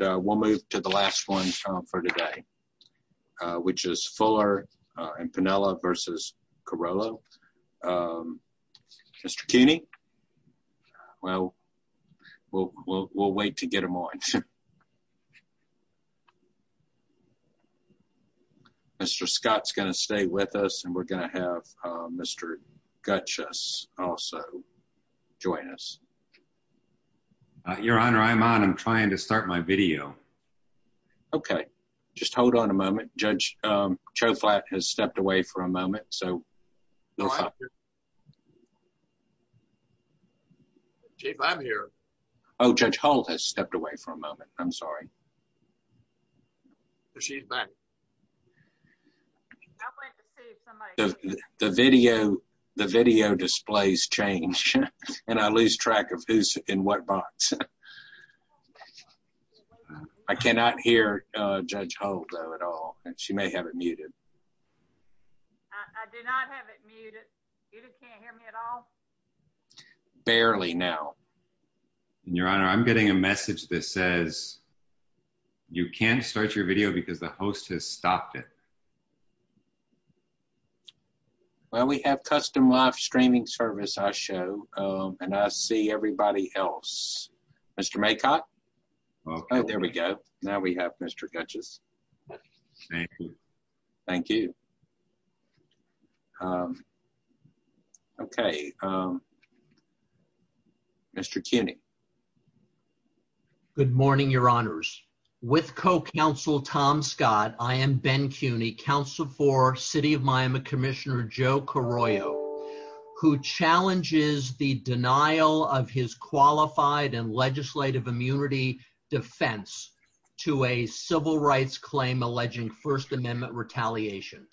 we'll move to the last one for today which is Fuller and Piniella versus Carollo. Mr. Cuny, well we'll wait to get him on. Mr. Scott's gonna stay with us and we're gonna have Mr. Gutchess also join us. Your honor I'm on I'm trying to Okay, just hold on a moment. Judge Choflat has stepped away for a moment. Oh, Judge Hull has stepped away for a moment. I'm sorry. The video displays change and I lose track of who's in what box. I cannot hear Judge Hull at all and she may have it muted. Barely now. Your honor I'm getting a message that says you can't start your video because the host has stopped it. Well we have custom live streaming service I show and I see everybody else. Mr. Maycott, oh there we go. Now we have Mr. Gutchess. Thank you. Okay, Mr. Cuny. Good morning your honors. With co-counsel Tom Scott I am Ben Cuny counsel for City of Miami Commissioner Joe Carollo who challenges the denial of his qualified and legislative immunity defense to a civil rights claim alleging First Amendment retaliation.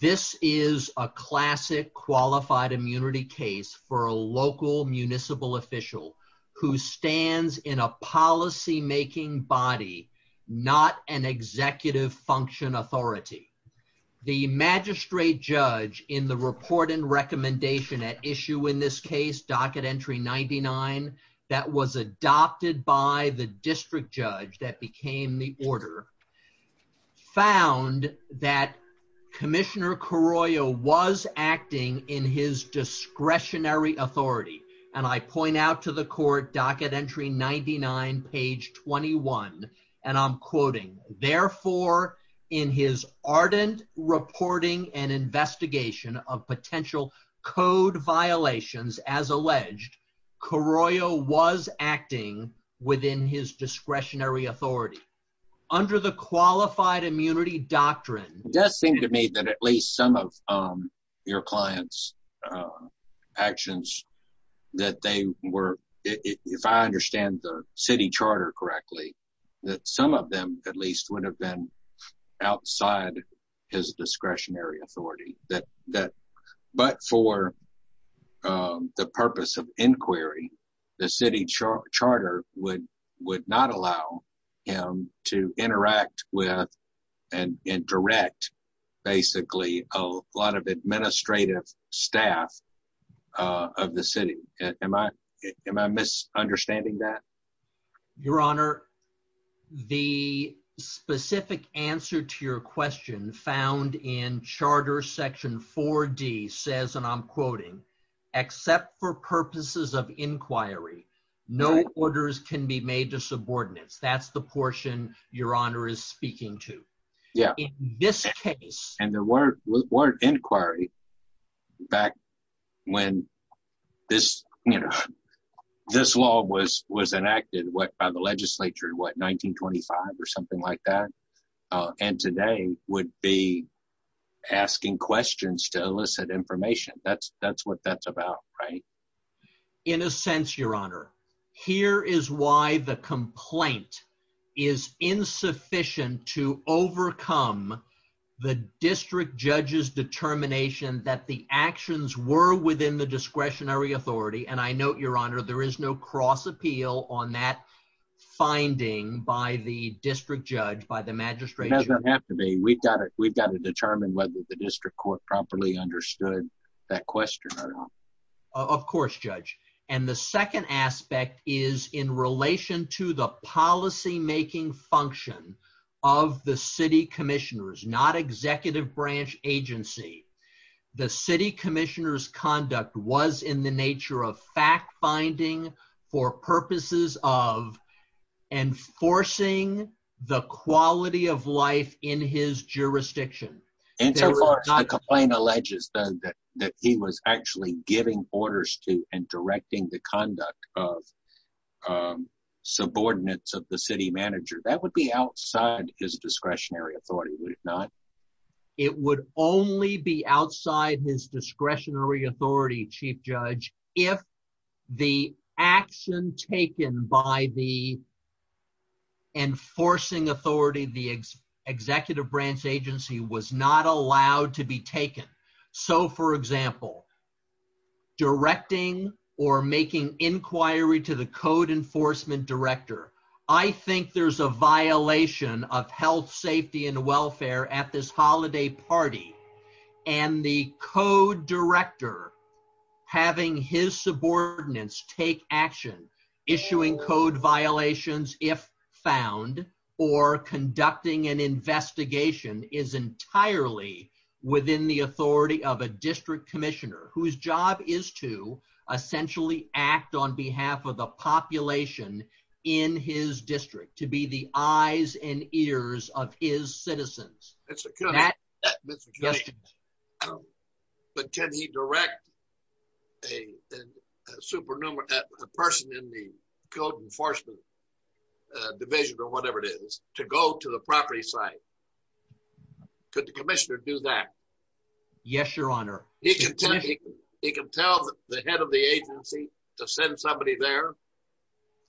This is a classic qualified immunity case for a local municipal official who stands in a policymaking body not an executive function authority. The magistrate judge in the report and recommendation at this case docket entry 99 that was adopted by the district judge that became the order found that Commissioner Carollo was acting in his discretionary authority and I point out to the court docket entry 99 page 21 and I'm quoting therefore in his ardent reporting and investigation of potential code violations as alleged Carollo was acting within his discretionary authority under the qualified immunity doctrine. It does seem to me that at least some of your clients actions that they were if I understand the city charter correctly that some of them at least would have been outside his the purpose of inquiry the city charter would would not allow him to interact with and in direct basically a lot of administrative staff of the city. Am I am I misunderstanding that? Your honor the specific answer to your question found in charter section 4d says and I'm quoting except for purposes of inquiry no orders can be made to subordinates that's the portion your honor is speaking to. Yeah. In this case and there weren't inquiry back when this you know this law was was enacted what by the legislature what 1925 or be asking questions to elicit information that's that's what that's about right? In a sense your honor here is why the complaint is insufficient to overcome the district judge's determination that the actions were within the discretionary authority and I note your honor there is no cross appeal on that finding by the district judge by the magistrate. It doesn't have to be we've got to determine whether the district court properly understood that question or not. Of course judge and the second aspect is in relation to the policy making function of the city commissioners not executive branch agency the city commissioners conduct was in the nature of fact-finding for purposes of enforcing the quality of life in his jurisdiction. And so far the complaint alleges that that he was actually giving orders to and directing the conduct of subordinates of the city manager that would be outside his discretionary authority would it not? It would only be outside his discretionary authority chief judge if the action taken by the enforcing authority the executive branch agency was not allowed to be taken. So for example directing or making inquiry to the code enforcement director I think there's a violation of health safety and having his subordinates take action issuing code violations if found or conducting an investigation is entirely within the authority of a district commissioner whose job is to essentially act on behalf of the population in his a person in the code enforcement division or whatever it is to go to the property site could the commissioner do that? Yes your honor. He can tell the head of the agency to send somebody there?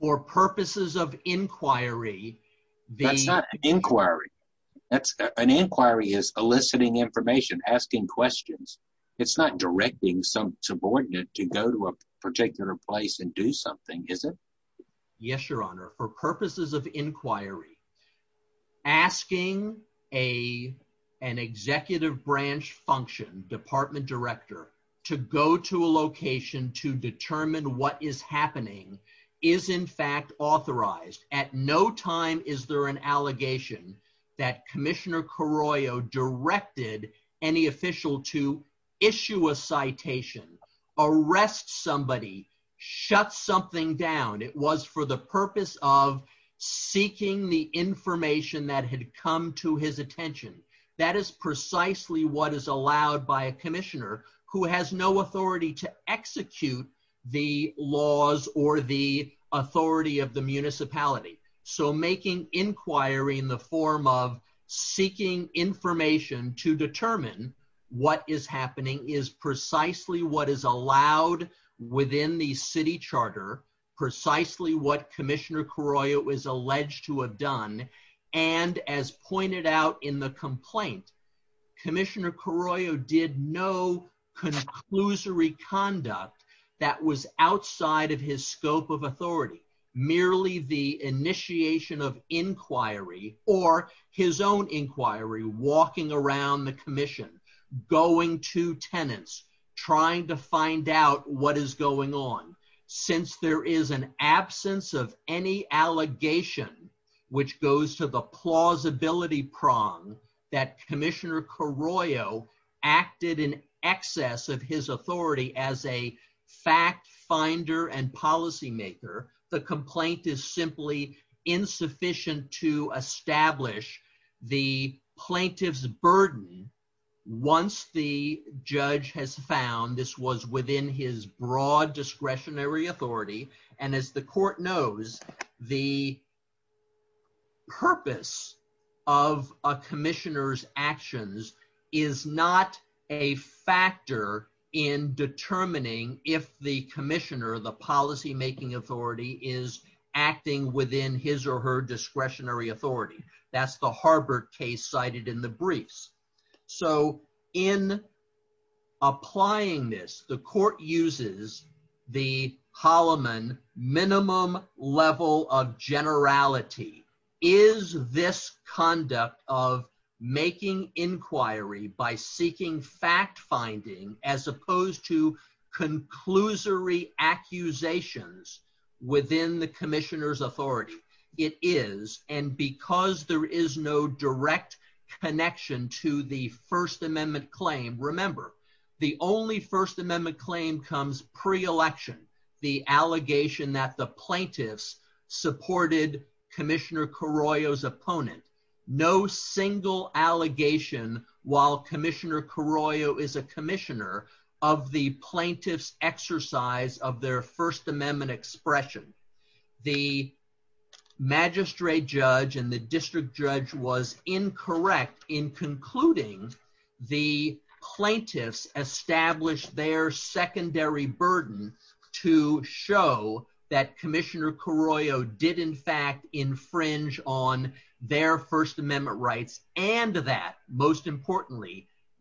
For purposes of inquiry. That's not inquiry that's an inquiry is eliciting information asking questions it's not directing some subordinate to go to a particular place and do something is it? Yes your honor for purposes of inquiry asking a an executive branch function department director to go to a location to determine what is happening is in fact authorized at no time is there an allegation that Commissioner Carroyo directed any official to issue a citation arrest somebody shut something down it was for the purpose of seeking the information that had come to his attention that is precisely what is allowed by a commissioner who has no authority to execute the laws or the authority of the municipality so making inquiry in the form of seeking information to determine what is happening is precisely what is allowed within the city charter precisely what Commissioner Carroyo was alleged to have done and as pointed out in the complaint Commissioner Carroyo did no conclusory conduct that was outside of his scope of inquiry or his own inquiry walking around the Commission going to tenants trying to find out what is going on since there is an absence of any allegation which goes to the plausibility prong that Commissioner Carroyo acted in excess of his authority as a fact finder and policymaker the sufficient to establish the plaintiff's burden once the judge has found this was within his broad discretionary authority and as the court knows the purpose of a commissioners actions is not a factor in determining if the commissioner the discretionary authority that's the Harbert case cited in the briefs so in applying this the court uses the Holloman minimum level of generality is this conduct of making inquiry by seeking fact-finding as opposed to conclusory accusations within the commissioners authority it is and because there is no direct connection to the First Amendment claim remember the only First Amendment claim comes pre-election the allegation that the plaintiffs supported Commissioner Carroyo's opponent no single allegation while Commissioner Carroyo is a commissioner of the plaintiffs exercise of their First Amendment expression the magistrate judge and the district judge was incorrect in concluding the plaintiffs established their secondary burden to show that Commissioner Carroyo did in fact infringe on their First Importantly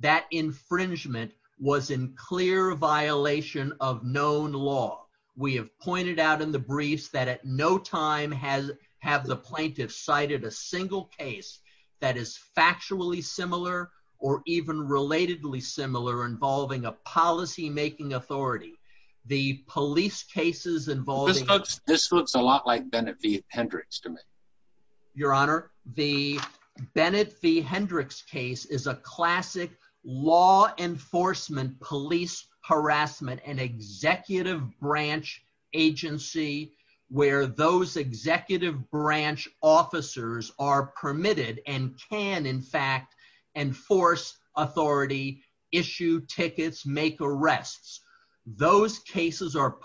that infringement was in clear violation of known law we have pointed out in the briefs that at no time has have the plaintiffs cited a single case that is factually similar or even relatedly similar involving a policymaking authority the police cases involved this looks a lot like Bennett the Hendricks case is a classic law enforcement police harassment and executive branch agency where those executive branch officers are permitted and can in fact enforce authority issue tickets make arrests those cases are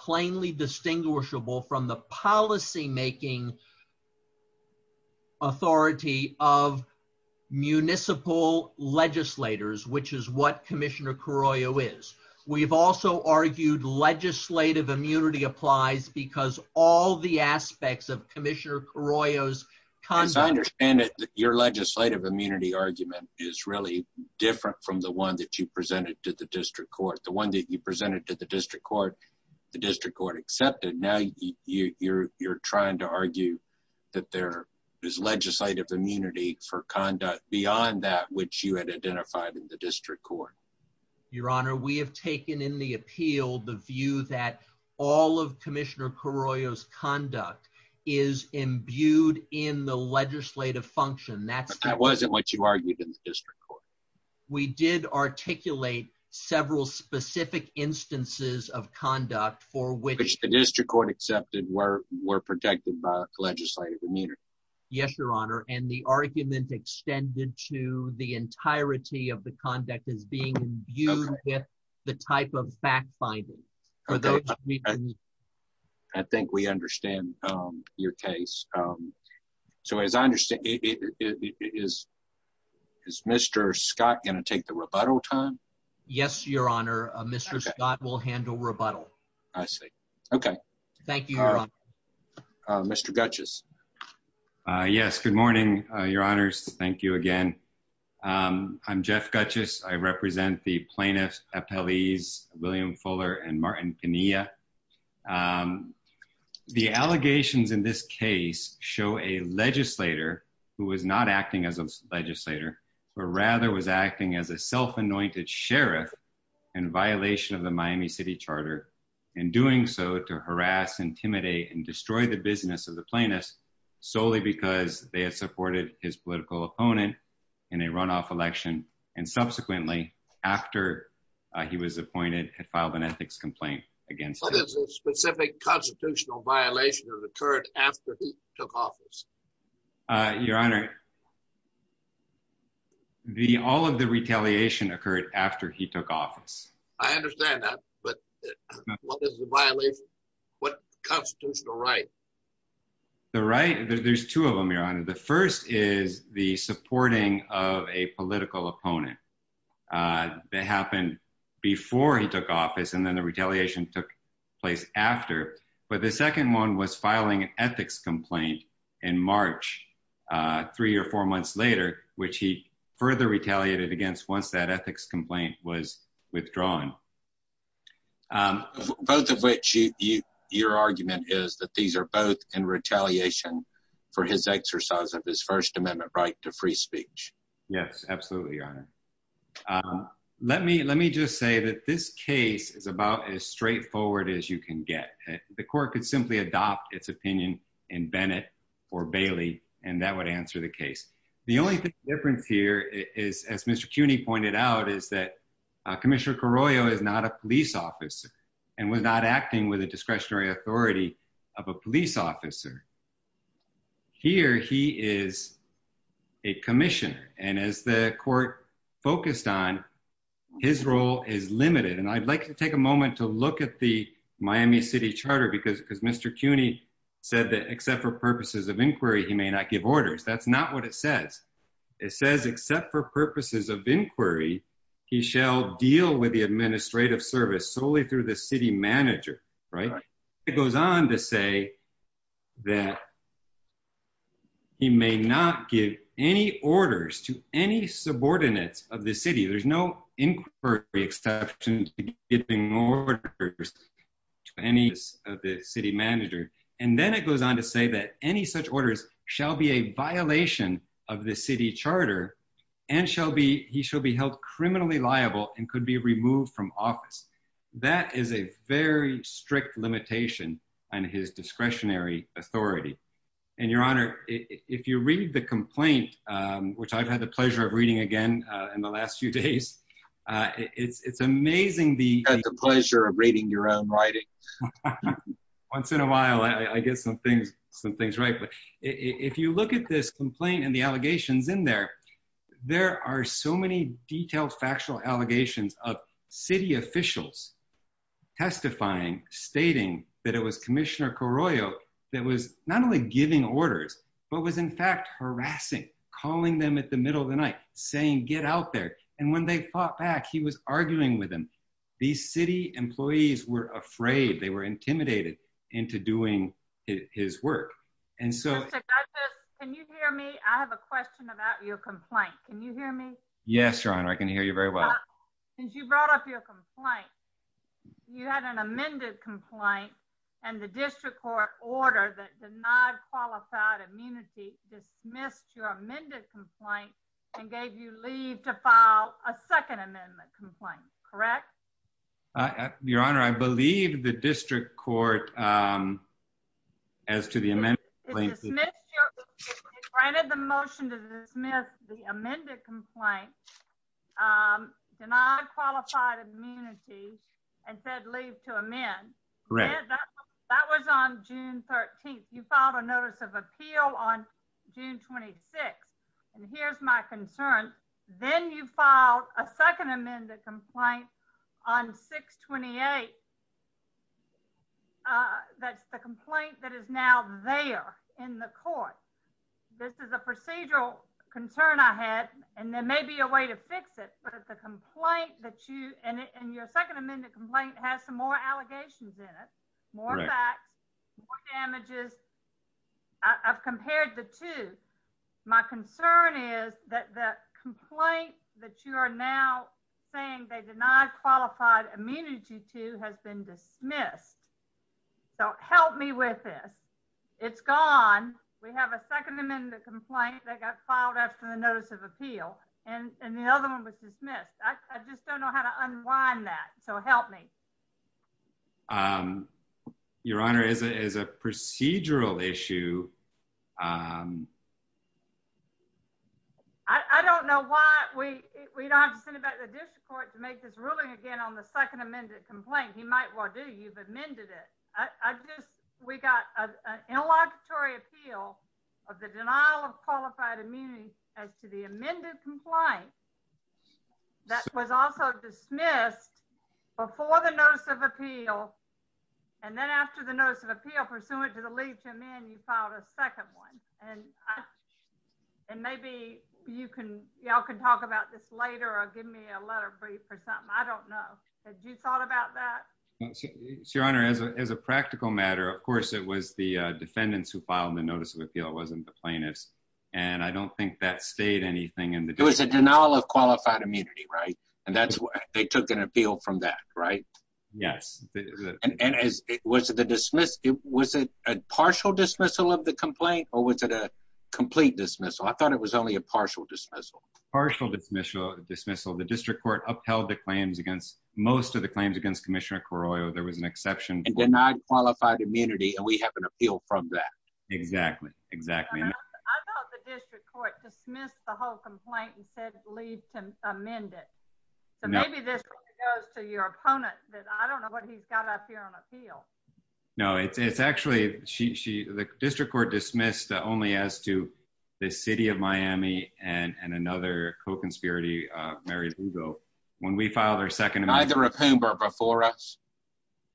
municipal legislators which is what Commissioner Carroyo is we've also argued legislative immunity applies because all the aspects of Commissioner Carroyo's consignors and your legislative immunity argument is really different from the one that you presented to the district court the one that you presented to the district court the district court accepted now you're trying to argue that there is legislative immunity for conduct beyond that which you had identified in the district court your honor we have taken in the appeal the view that all of Commissioner Carroyo's conduct is imbued in the legislative function that's that wasn't what you argued in the district court we did articulate several specific instances of conduct for which the district court accepted were were protected by legislative immunity yes your honor and the argument extended to the entirety of the conduct is being imbued with the type of fact-finding I think we understand your case so as I understand it is is mr. Scott gonna take the rebuttal time yes your honor mr. Scott will handle rebuttal I see okay thank you mr. Dutchess yes good morning your honors thank you again I'm Jeff Gutchess I represent the plaintiffs appellees William Fuller and Martin Kenia the allegations in this case show a legislator who was not acting as a legislator or rather was acting as a Miami City Charter in doing so to harass intimidate and destroy the business of the plaintiffs solely because they had supported his political opponent in a runoff election and subsequently after he was appointed had filed an ethics complaint against the specific constitutional violation of the current after he took office your honor the all of the retaliation occurred after he but what constitutional right the right there's two of them your honor the first is the supporting of a political opponent that happened before he took office and then the retaliation took place after but the second one was filing an ethics complaint in March three or four months later which he further retaliated against once that ethics complaint was withdrawn both of which you your argument is that these are both in retaliation for his exercise of his First Amendment right to free speech yes absolutely your honor let me let me just say that this case is about as straightforward as you can get the court could simply adopt its opinion in Bennett or Bailey and that would answer the case the only difference here is as mr. CUNY pointed out is that Commissioner Carollo is not a police officer and was not acting with a discretionary authority of a police officer here he is a commissioner and as the court focused on his role is limited and I'd like to take a moment to look at the Miami City Charter because because mr. CUNY said that except for purposes of inquiry he may not give orders that's not what it says it says except for purposes of inquiry he shall deal with the administrative service solely through the city manager right it goes on to say that he may not give any orders to any subordinates of the city there's no inquiry exception giving any of the city manager and then it goes on to say that any such orders shall be a violation of the city charter and shall be he shall be held criminally liable and could be removed from office that is a very strict limitation on his discretionary authority and your honor if you read the complaint which I've had the pleasure of reading again in the last few days it's it's amazing the pleasure of reading your own writing once in a while I get some things some things right but if you look at this complaint and the allegations in there there are so many detailed factual allegations of city officials testifying stating that it was Commissioner Carollo that was not only giving orders but was in fact harassing calling them at the middle of the night saying get out there and when they fought back he was arguing with them these city employees were afraid they were intimidated into doing his work and so can you hear me I have a question about your complaint can you hear me yes your honor I can hear you very well since you brought up your complaint you had an amended complaint and the district court order that did not qualified immunity dismissed your amended complaint and gave you leave to file a second amendment complaint correct your honor I believe the district court as to the amendment granted the motion to dismiss the amended complaint denied qualified immunity and said leave to amend that was on June 13th you filed a notice of appeal on June 26 and here's my concern then you filed a second amended complaint on 628 that's the complaint that is now there in the court this is a procedural concern I had and there may be a way to fix it but at the complaint that you and your second amended complaint has some more allegations in it more damages I've compared the two my concern is that the complaint that you are now saying they did not qualified immunity to has been dismissed so help me with this it's gone we have a second amendment complaint that got filed after the notice of help me your honor is it is a procedural issue I don't know why we we don't have to send it back to the district court to make this ruling again on the second amended complaint he might well do you've amended it I guess we got an interlocutory appeal of the denial of qualified immunity as to the amended complaint that was also dismissed before the notice of appeal and then after the notice of appeal pursuant to the leave to amend you filed a second one and and maybe you can y'all can talk about this later or give me a letter brief or something I don't know that you thought about that your honor as a practical matter of course it was the defendants who filed the notice of denial of qualified immunity right and that's what they took an appeal from that right yes and as it was the dismissed it was a partial dismissal of the complaint or was it a complete dismissal I thought it was only a partial dismissal partial dismissal dismissal the district court upheld the claims against most of the claims against Commissioner Correo there was an exactly exactly I thought the district court dismissed the whole complaint and said leave to amend it so maybe this goes to your opponent that I don't know what he's got up here on appeal no it's actually she the district court dismissed only as to the city of Miami and and another co-conspirator Mary Lugo when we filed our second neither of whom were before us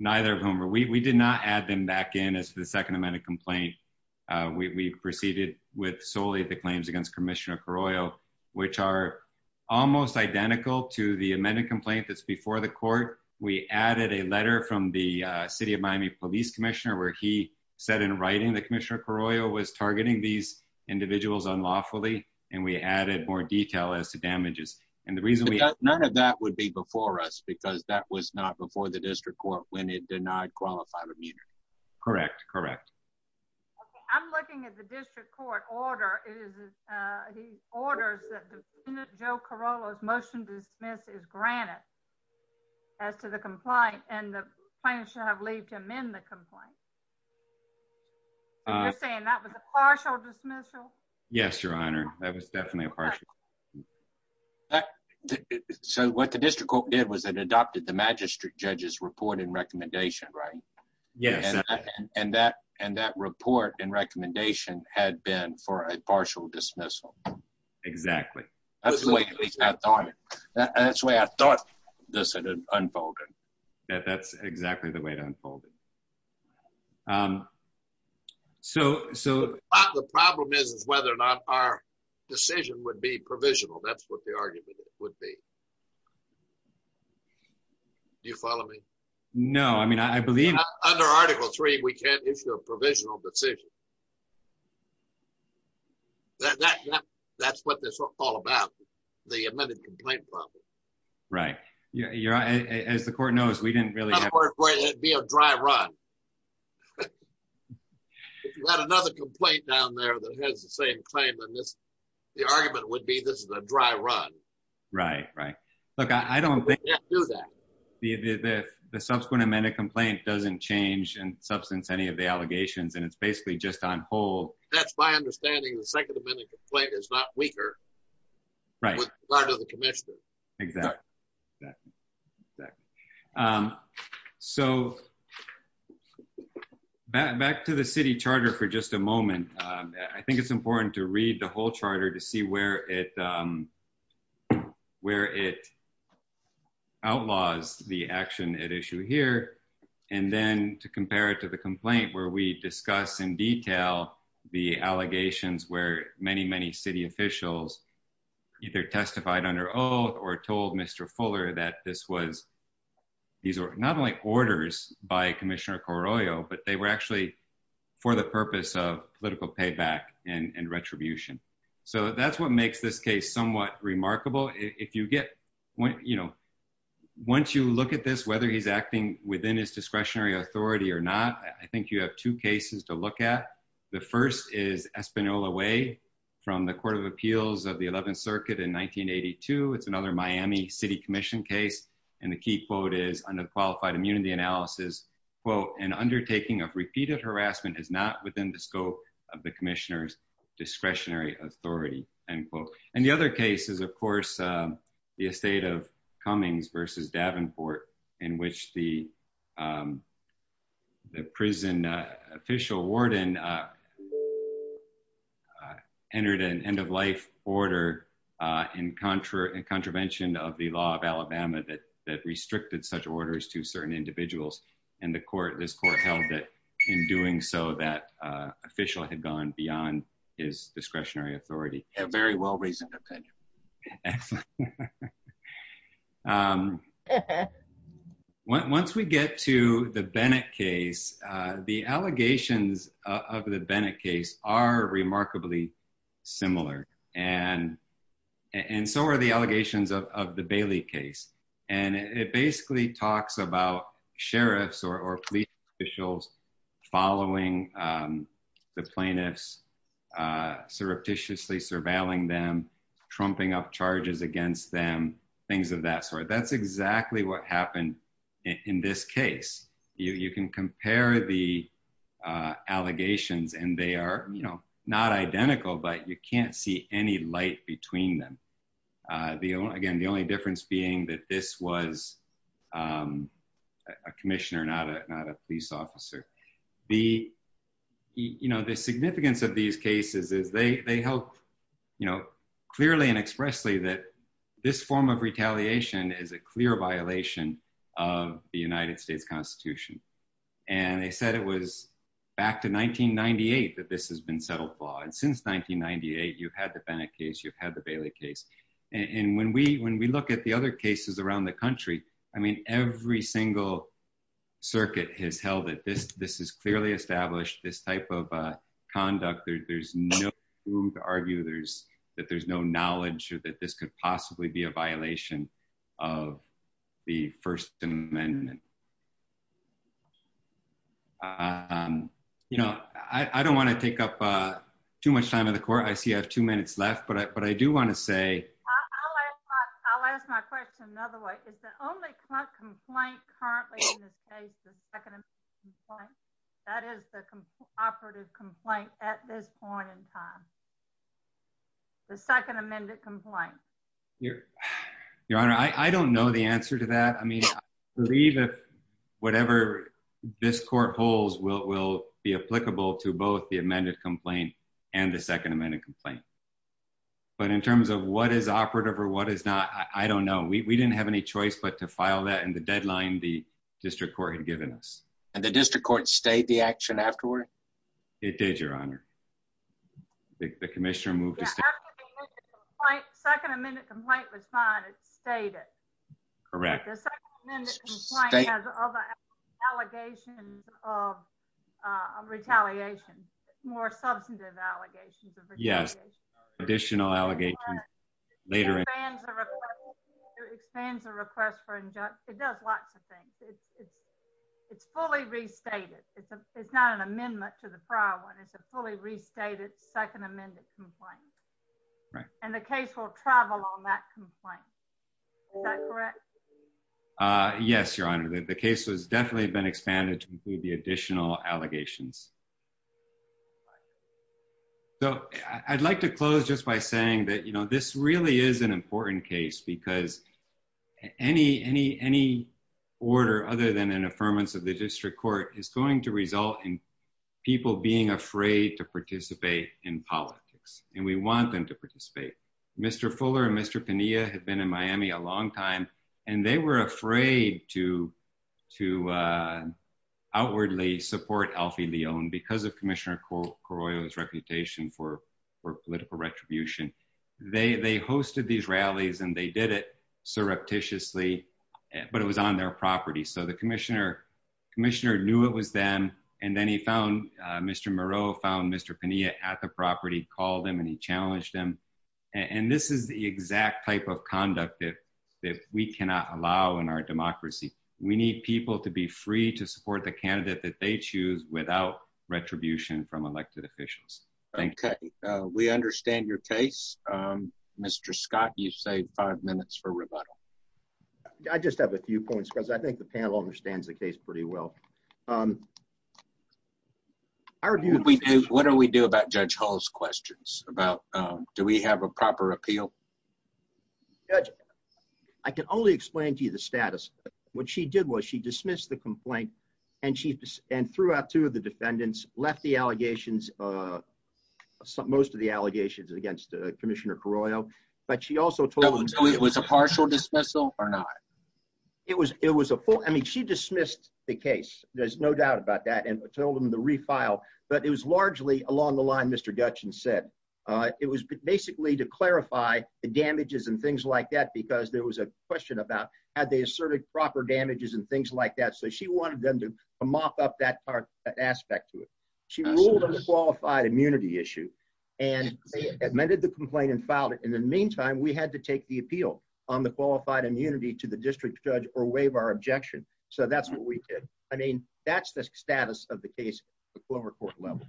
neither of whom were we did not add them back in as the second amendment complaint we've proceeded with solely at the claims against Commissioner Correo which are almost identical to the amendment complaint that's before the court we added a letter from the city of Miami Police Commissioner where he said in writing the Commissioner Correo was targeting these individuals unlawfully and we added more detail as to damages and the reason we none of that would be before us because that was not before the district court when it did not correct correct I'm looking at the district court order is he orders that the Joe Corolla's motion dismiss is granted as to the complaint and the plaintiff should have leaved him in the complaint you're saying that was a partial dismissal yes your honor that was definitely a partial so what the district court did was that adopted the magistrate judges report and recommendation right yeah and that and that report and recommendation had been for a partial dismissal exactly that's the way I thought that's the way I thought this had unfolded that that's exactly the way to unfold it so so the problem is is whether or not our decision would be provisional that's you follow me no I mean I believe under article three we can't issue a provisional decision that that that's what this is all about the amended complaint problem right yeah yeah as the court knows we didn't really have to be a dry run another complaint down there that has the same claim and this the I don't think the subsequent amendment complaint doesn't change and substance any of the allegations and it's basically just on hold that's my understanding the second amendment complaint is not weaker right part of the commission exactly so back to the city charter for just a moment I think it's important to read the whole charter to see where it where it outlaws the action at issue here and then to compare it to the complaint where we discuss in detail the allegations where many many city officials either testified under oath or told mr. Fuller that this was these are not only orders by Commissioner but they were actually for the purpose of political payback and retribution so that's what makes this case somewhat remarkable if you get what you know once you look at this whether he's acting within his discretionary authority or not I think you have two cases to look at the first is Espanola way from the Court of Appeals of the 11th Circuit in 1982 it's another Miami City Commission case and the key quote is on the qualified immunity analysis quote an undertaking of repeated harassment is not within the scope of the Commissioner's discretionary authority and quote and the other case is of course the estate of Cummings versus Davenport in which the the prison official warden entered an end-of-life order in contra and contravention of the law of that that restricted such orders to certain individuals and the court this court held that in doing so that official had gone beyond his discretionary authority a very well-reasoned opinion once we get to the Bennett case the allegations of the Bennett case are remarkably similar and and so are the allegations of the Bailey case and it basically talks about sheriffs or police officials following the plaintiffs surreptitiously surveilling them trumping up charges against them things of that sort that's exactly what happened in this case you can compare the allegations and they are you know not identical but you can't see any light between them the again the only difference being that this was a commissioner not a police officer the you know the significance of these cases is they they help you know clearly and expressly that this form of retaliation is a clear violation of the United 1998 that this has been settled law and since 1998 you've had the Bennett case you've had the Bailey case and when we when we look at the other cases around the country I mean every single circuit has held that this this is clearly established this type of conduct there's no room to argue there's that there's no knowledge that this could possibly be a violation of the First Amendment you know I I don't want to take up too much time in the court I see I have two minutes left but I but I do want to say the second amended complaint your your honor I I don't know the answer to that whatever this court holds will be applicable to both the amended complaint and the second amended complaint but in terms of what is operative or what is not I don't know we didn't have any choice but to file that and the deadline the district court had given us and the district court stayed the action afterward it did your honor the commissioner moved to second amendment complaint was fine it's stated correct allegations of retaliation more substantive allegations yes additional allegations later expands the request for injunction it does lots of things it's it's fully restated it's not an amendment to the prior one it's a fully restated second amended complaint right and the case will travel on that complaint yes your honor that the case has definitely been expanded to include the additional allegations so I'd like to close just by saying that you know this really is an important case because any any any order other than an affirmance of the district court is going to result in people being afraid to participate in politics and we want them to participate mr. Fuller and mr. Pena have been in Miami a long time and they were afraid to to outwardly support Alfie Leon because of Commissioner Corolla's reputation for political retribution they they hosted these surreptitiously but it was on their property so the commissioner commissioner knew it was them and then he found mr. Moreau found mr. Pena at the property called him and he challenged him and this is the exact type of conduct that that we cannot allow in our democracy we need people to be free to support the candidate that they choose without retribution from elected officials okay we understand your case mr. Scott you've saved five minutes for rebuttal I just have a few points because I think the panel understands the case pretty well I argue we do what do we do about judge Hall's questions about do we have a proper appeal I can only explain to you the status what she did was she dismissed the complaint and she and threw out two of the defendants left the most of the allegations against Commissioner Corolla but she also told it was a partial dismissal or not it was it was a full I mean she dismissed the case there's no doubt about that and told him to refile but it was largely along the line mr. Dutch and said it was basically to clarify the damages and things like that because there was a question about had they asserted proper damages and things like that so she wanted them to mop up that part aspect to it she ruled on a qualified immunity issue and admitted the complaint and filed it in the meantime we had to take the appeal on the qualified immunity to the district judge or waive our objection so that's what we did I mean that's the status of the case the Clover Court level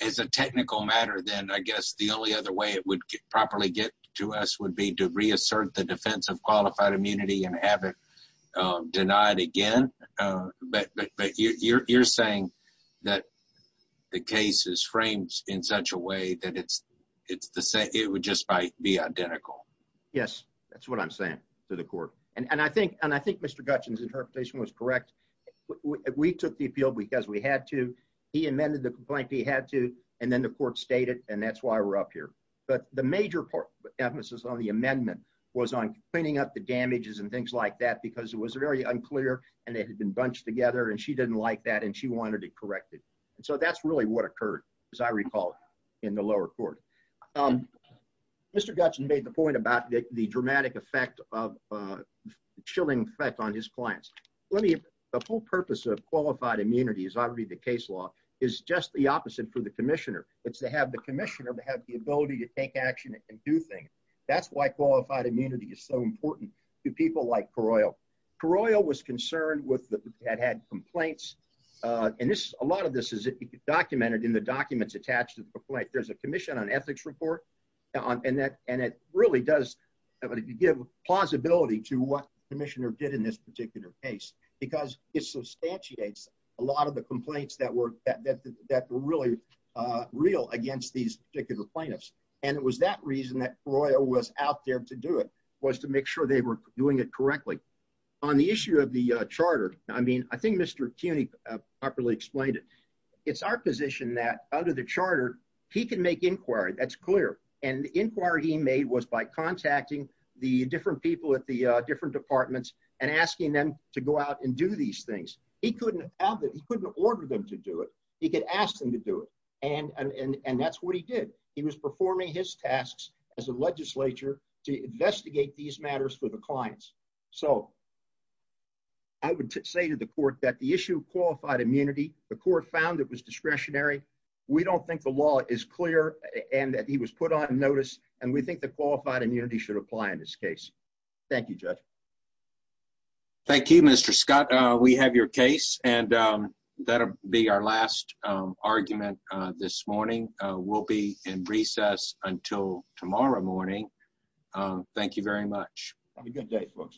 it's a technical matter then I guess the only other way it would properly get to us would be to reassert the defense of qualified immunity and have it denied again but you're saying that the case is framed in such a way that it's it's the same it would just might be identical yes that's what I'm saying to the court and and I think and I think mr. Gutchins interpretation was correct we took the appeal because we had to he amended the complaint he had to and then the court stated and that's why we're up here but the major part emphasis on the amendment was on cleaning up the damages and things like that because it was very unclear and it she wanted to correct it and so that's really what occurred as I recall in the lower court mr. Gutson made the point about the dramatic effect of chilling effect on his clients let me the whole purpose of qualified immunity is already the case law is just the opposite for the Commissioner it's to have the Commissioner to have the ability to take action and do things that's why qualified immunity is so important to people like paroil paroil was concerned with that had complaints and this a lot of this is it documented in the documents attached to the complaint there's a Commission on ethics report on and that and it really does but if you give plausibility to what Commissioner did in this particular case because it substantiates a lot of the complaints that were that were really real against these particular plaintiffs and it was that reason that royal was out there to do it was to make sure they were doing it correctly on the issue of the Charter I mean I think mr. CUNY properly explained it it's our position that under the Charter he can make inquiry that's clear and the inquiry he made was by contacting the different people at the different departments and asking them to go out and do these things he couldn't he couldn't order them to do it he could ask them to do it and and and that's what he did he was performing his tasks as a legislature to clients so I would say to the court that the issue qualified immunity the court found it was discretionary we don't think the law is clear and that he was put on notice and we think the qualified immunity should apply in this case thank you judge thank you mr. Scott we have your case and that'll be our last argument this morning we'll be in recess until tomorrow morning thank you very much have a good day folks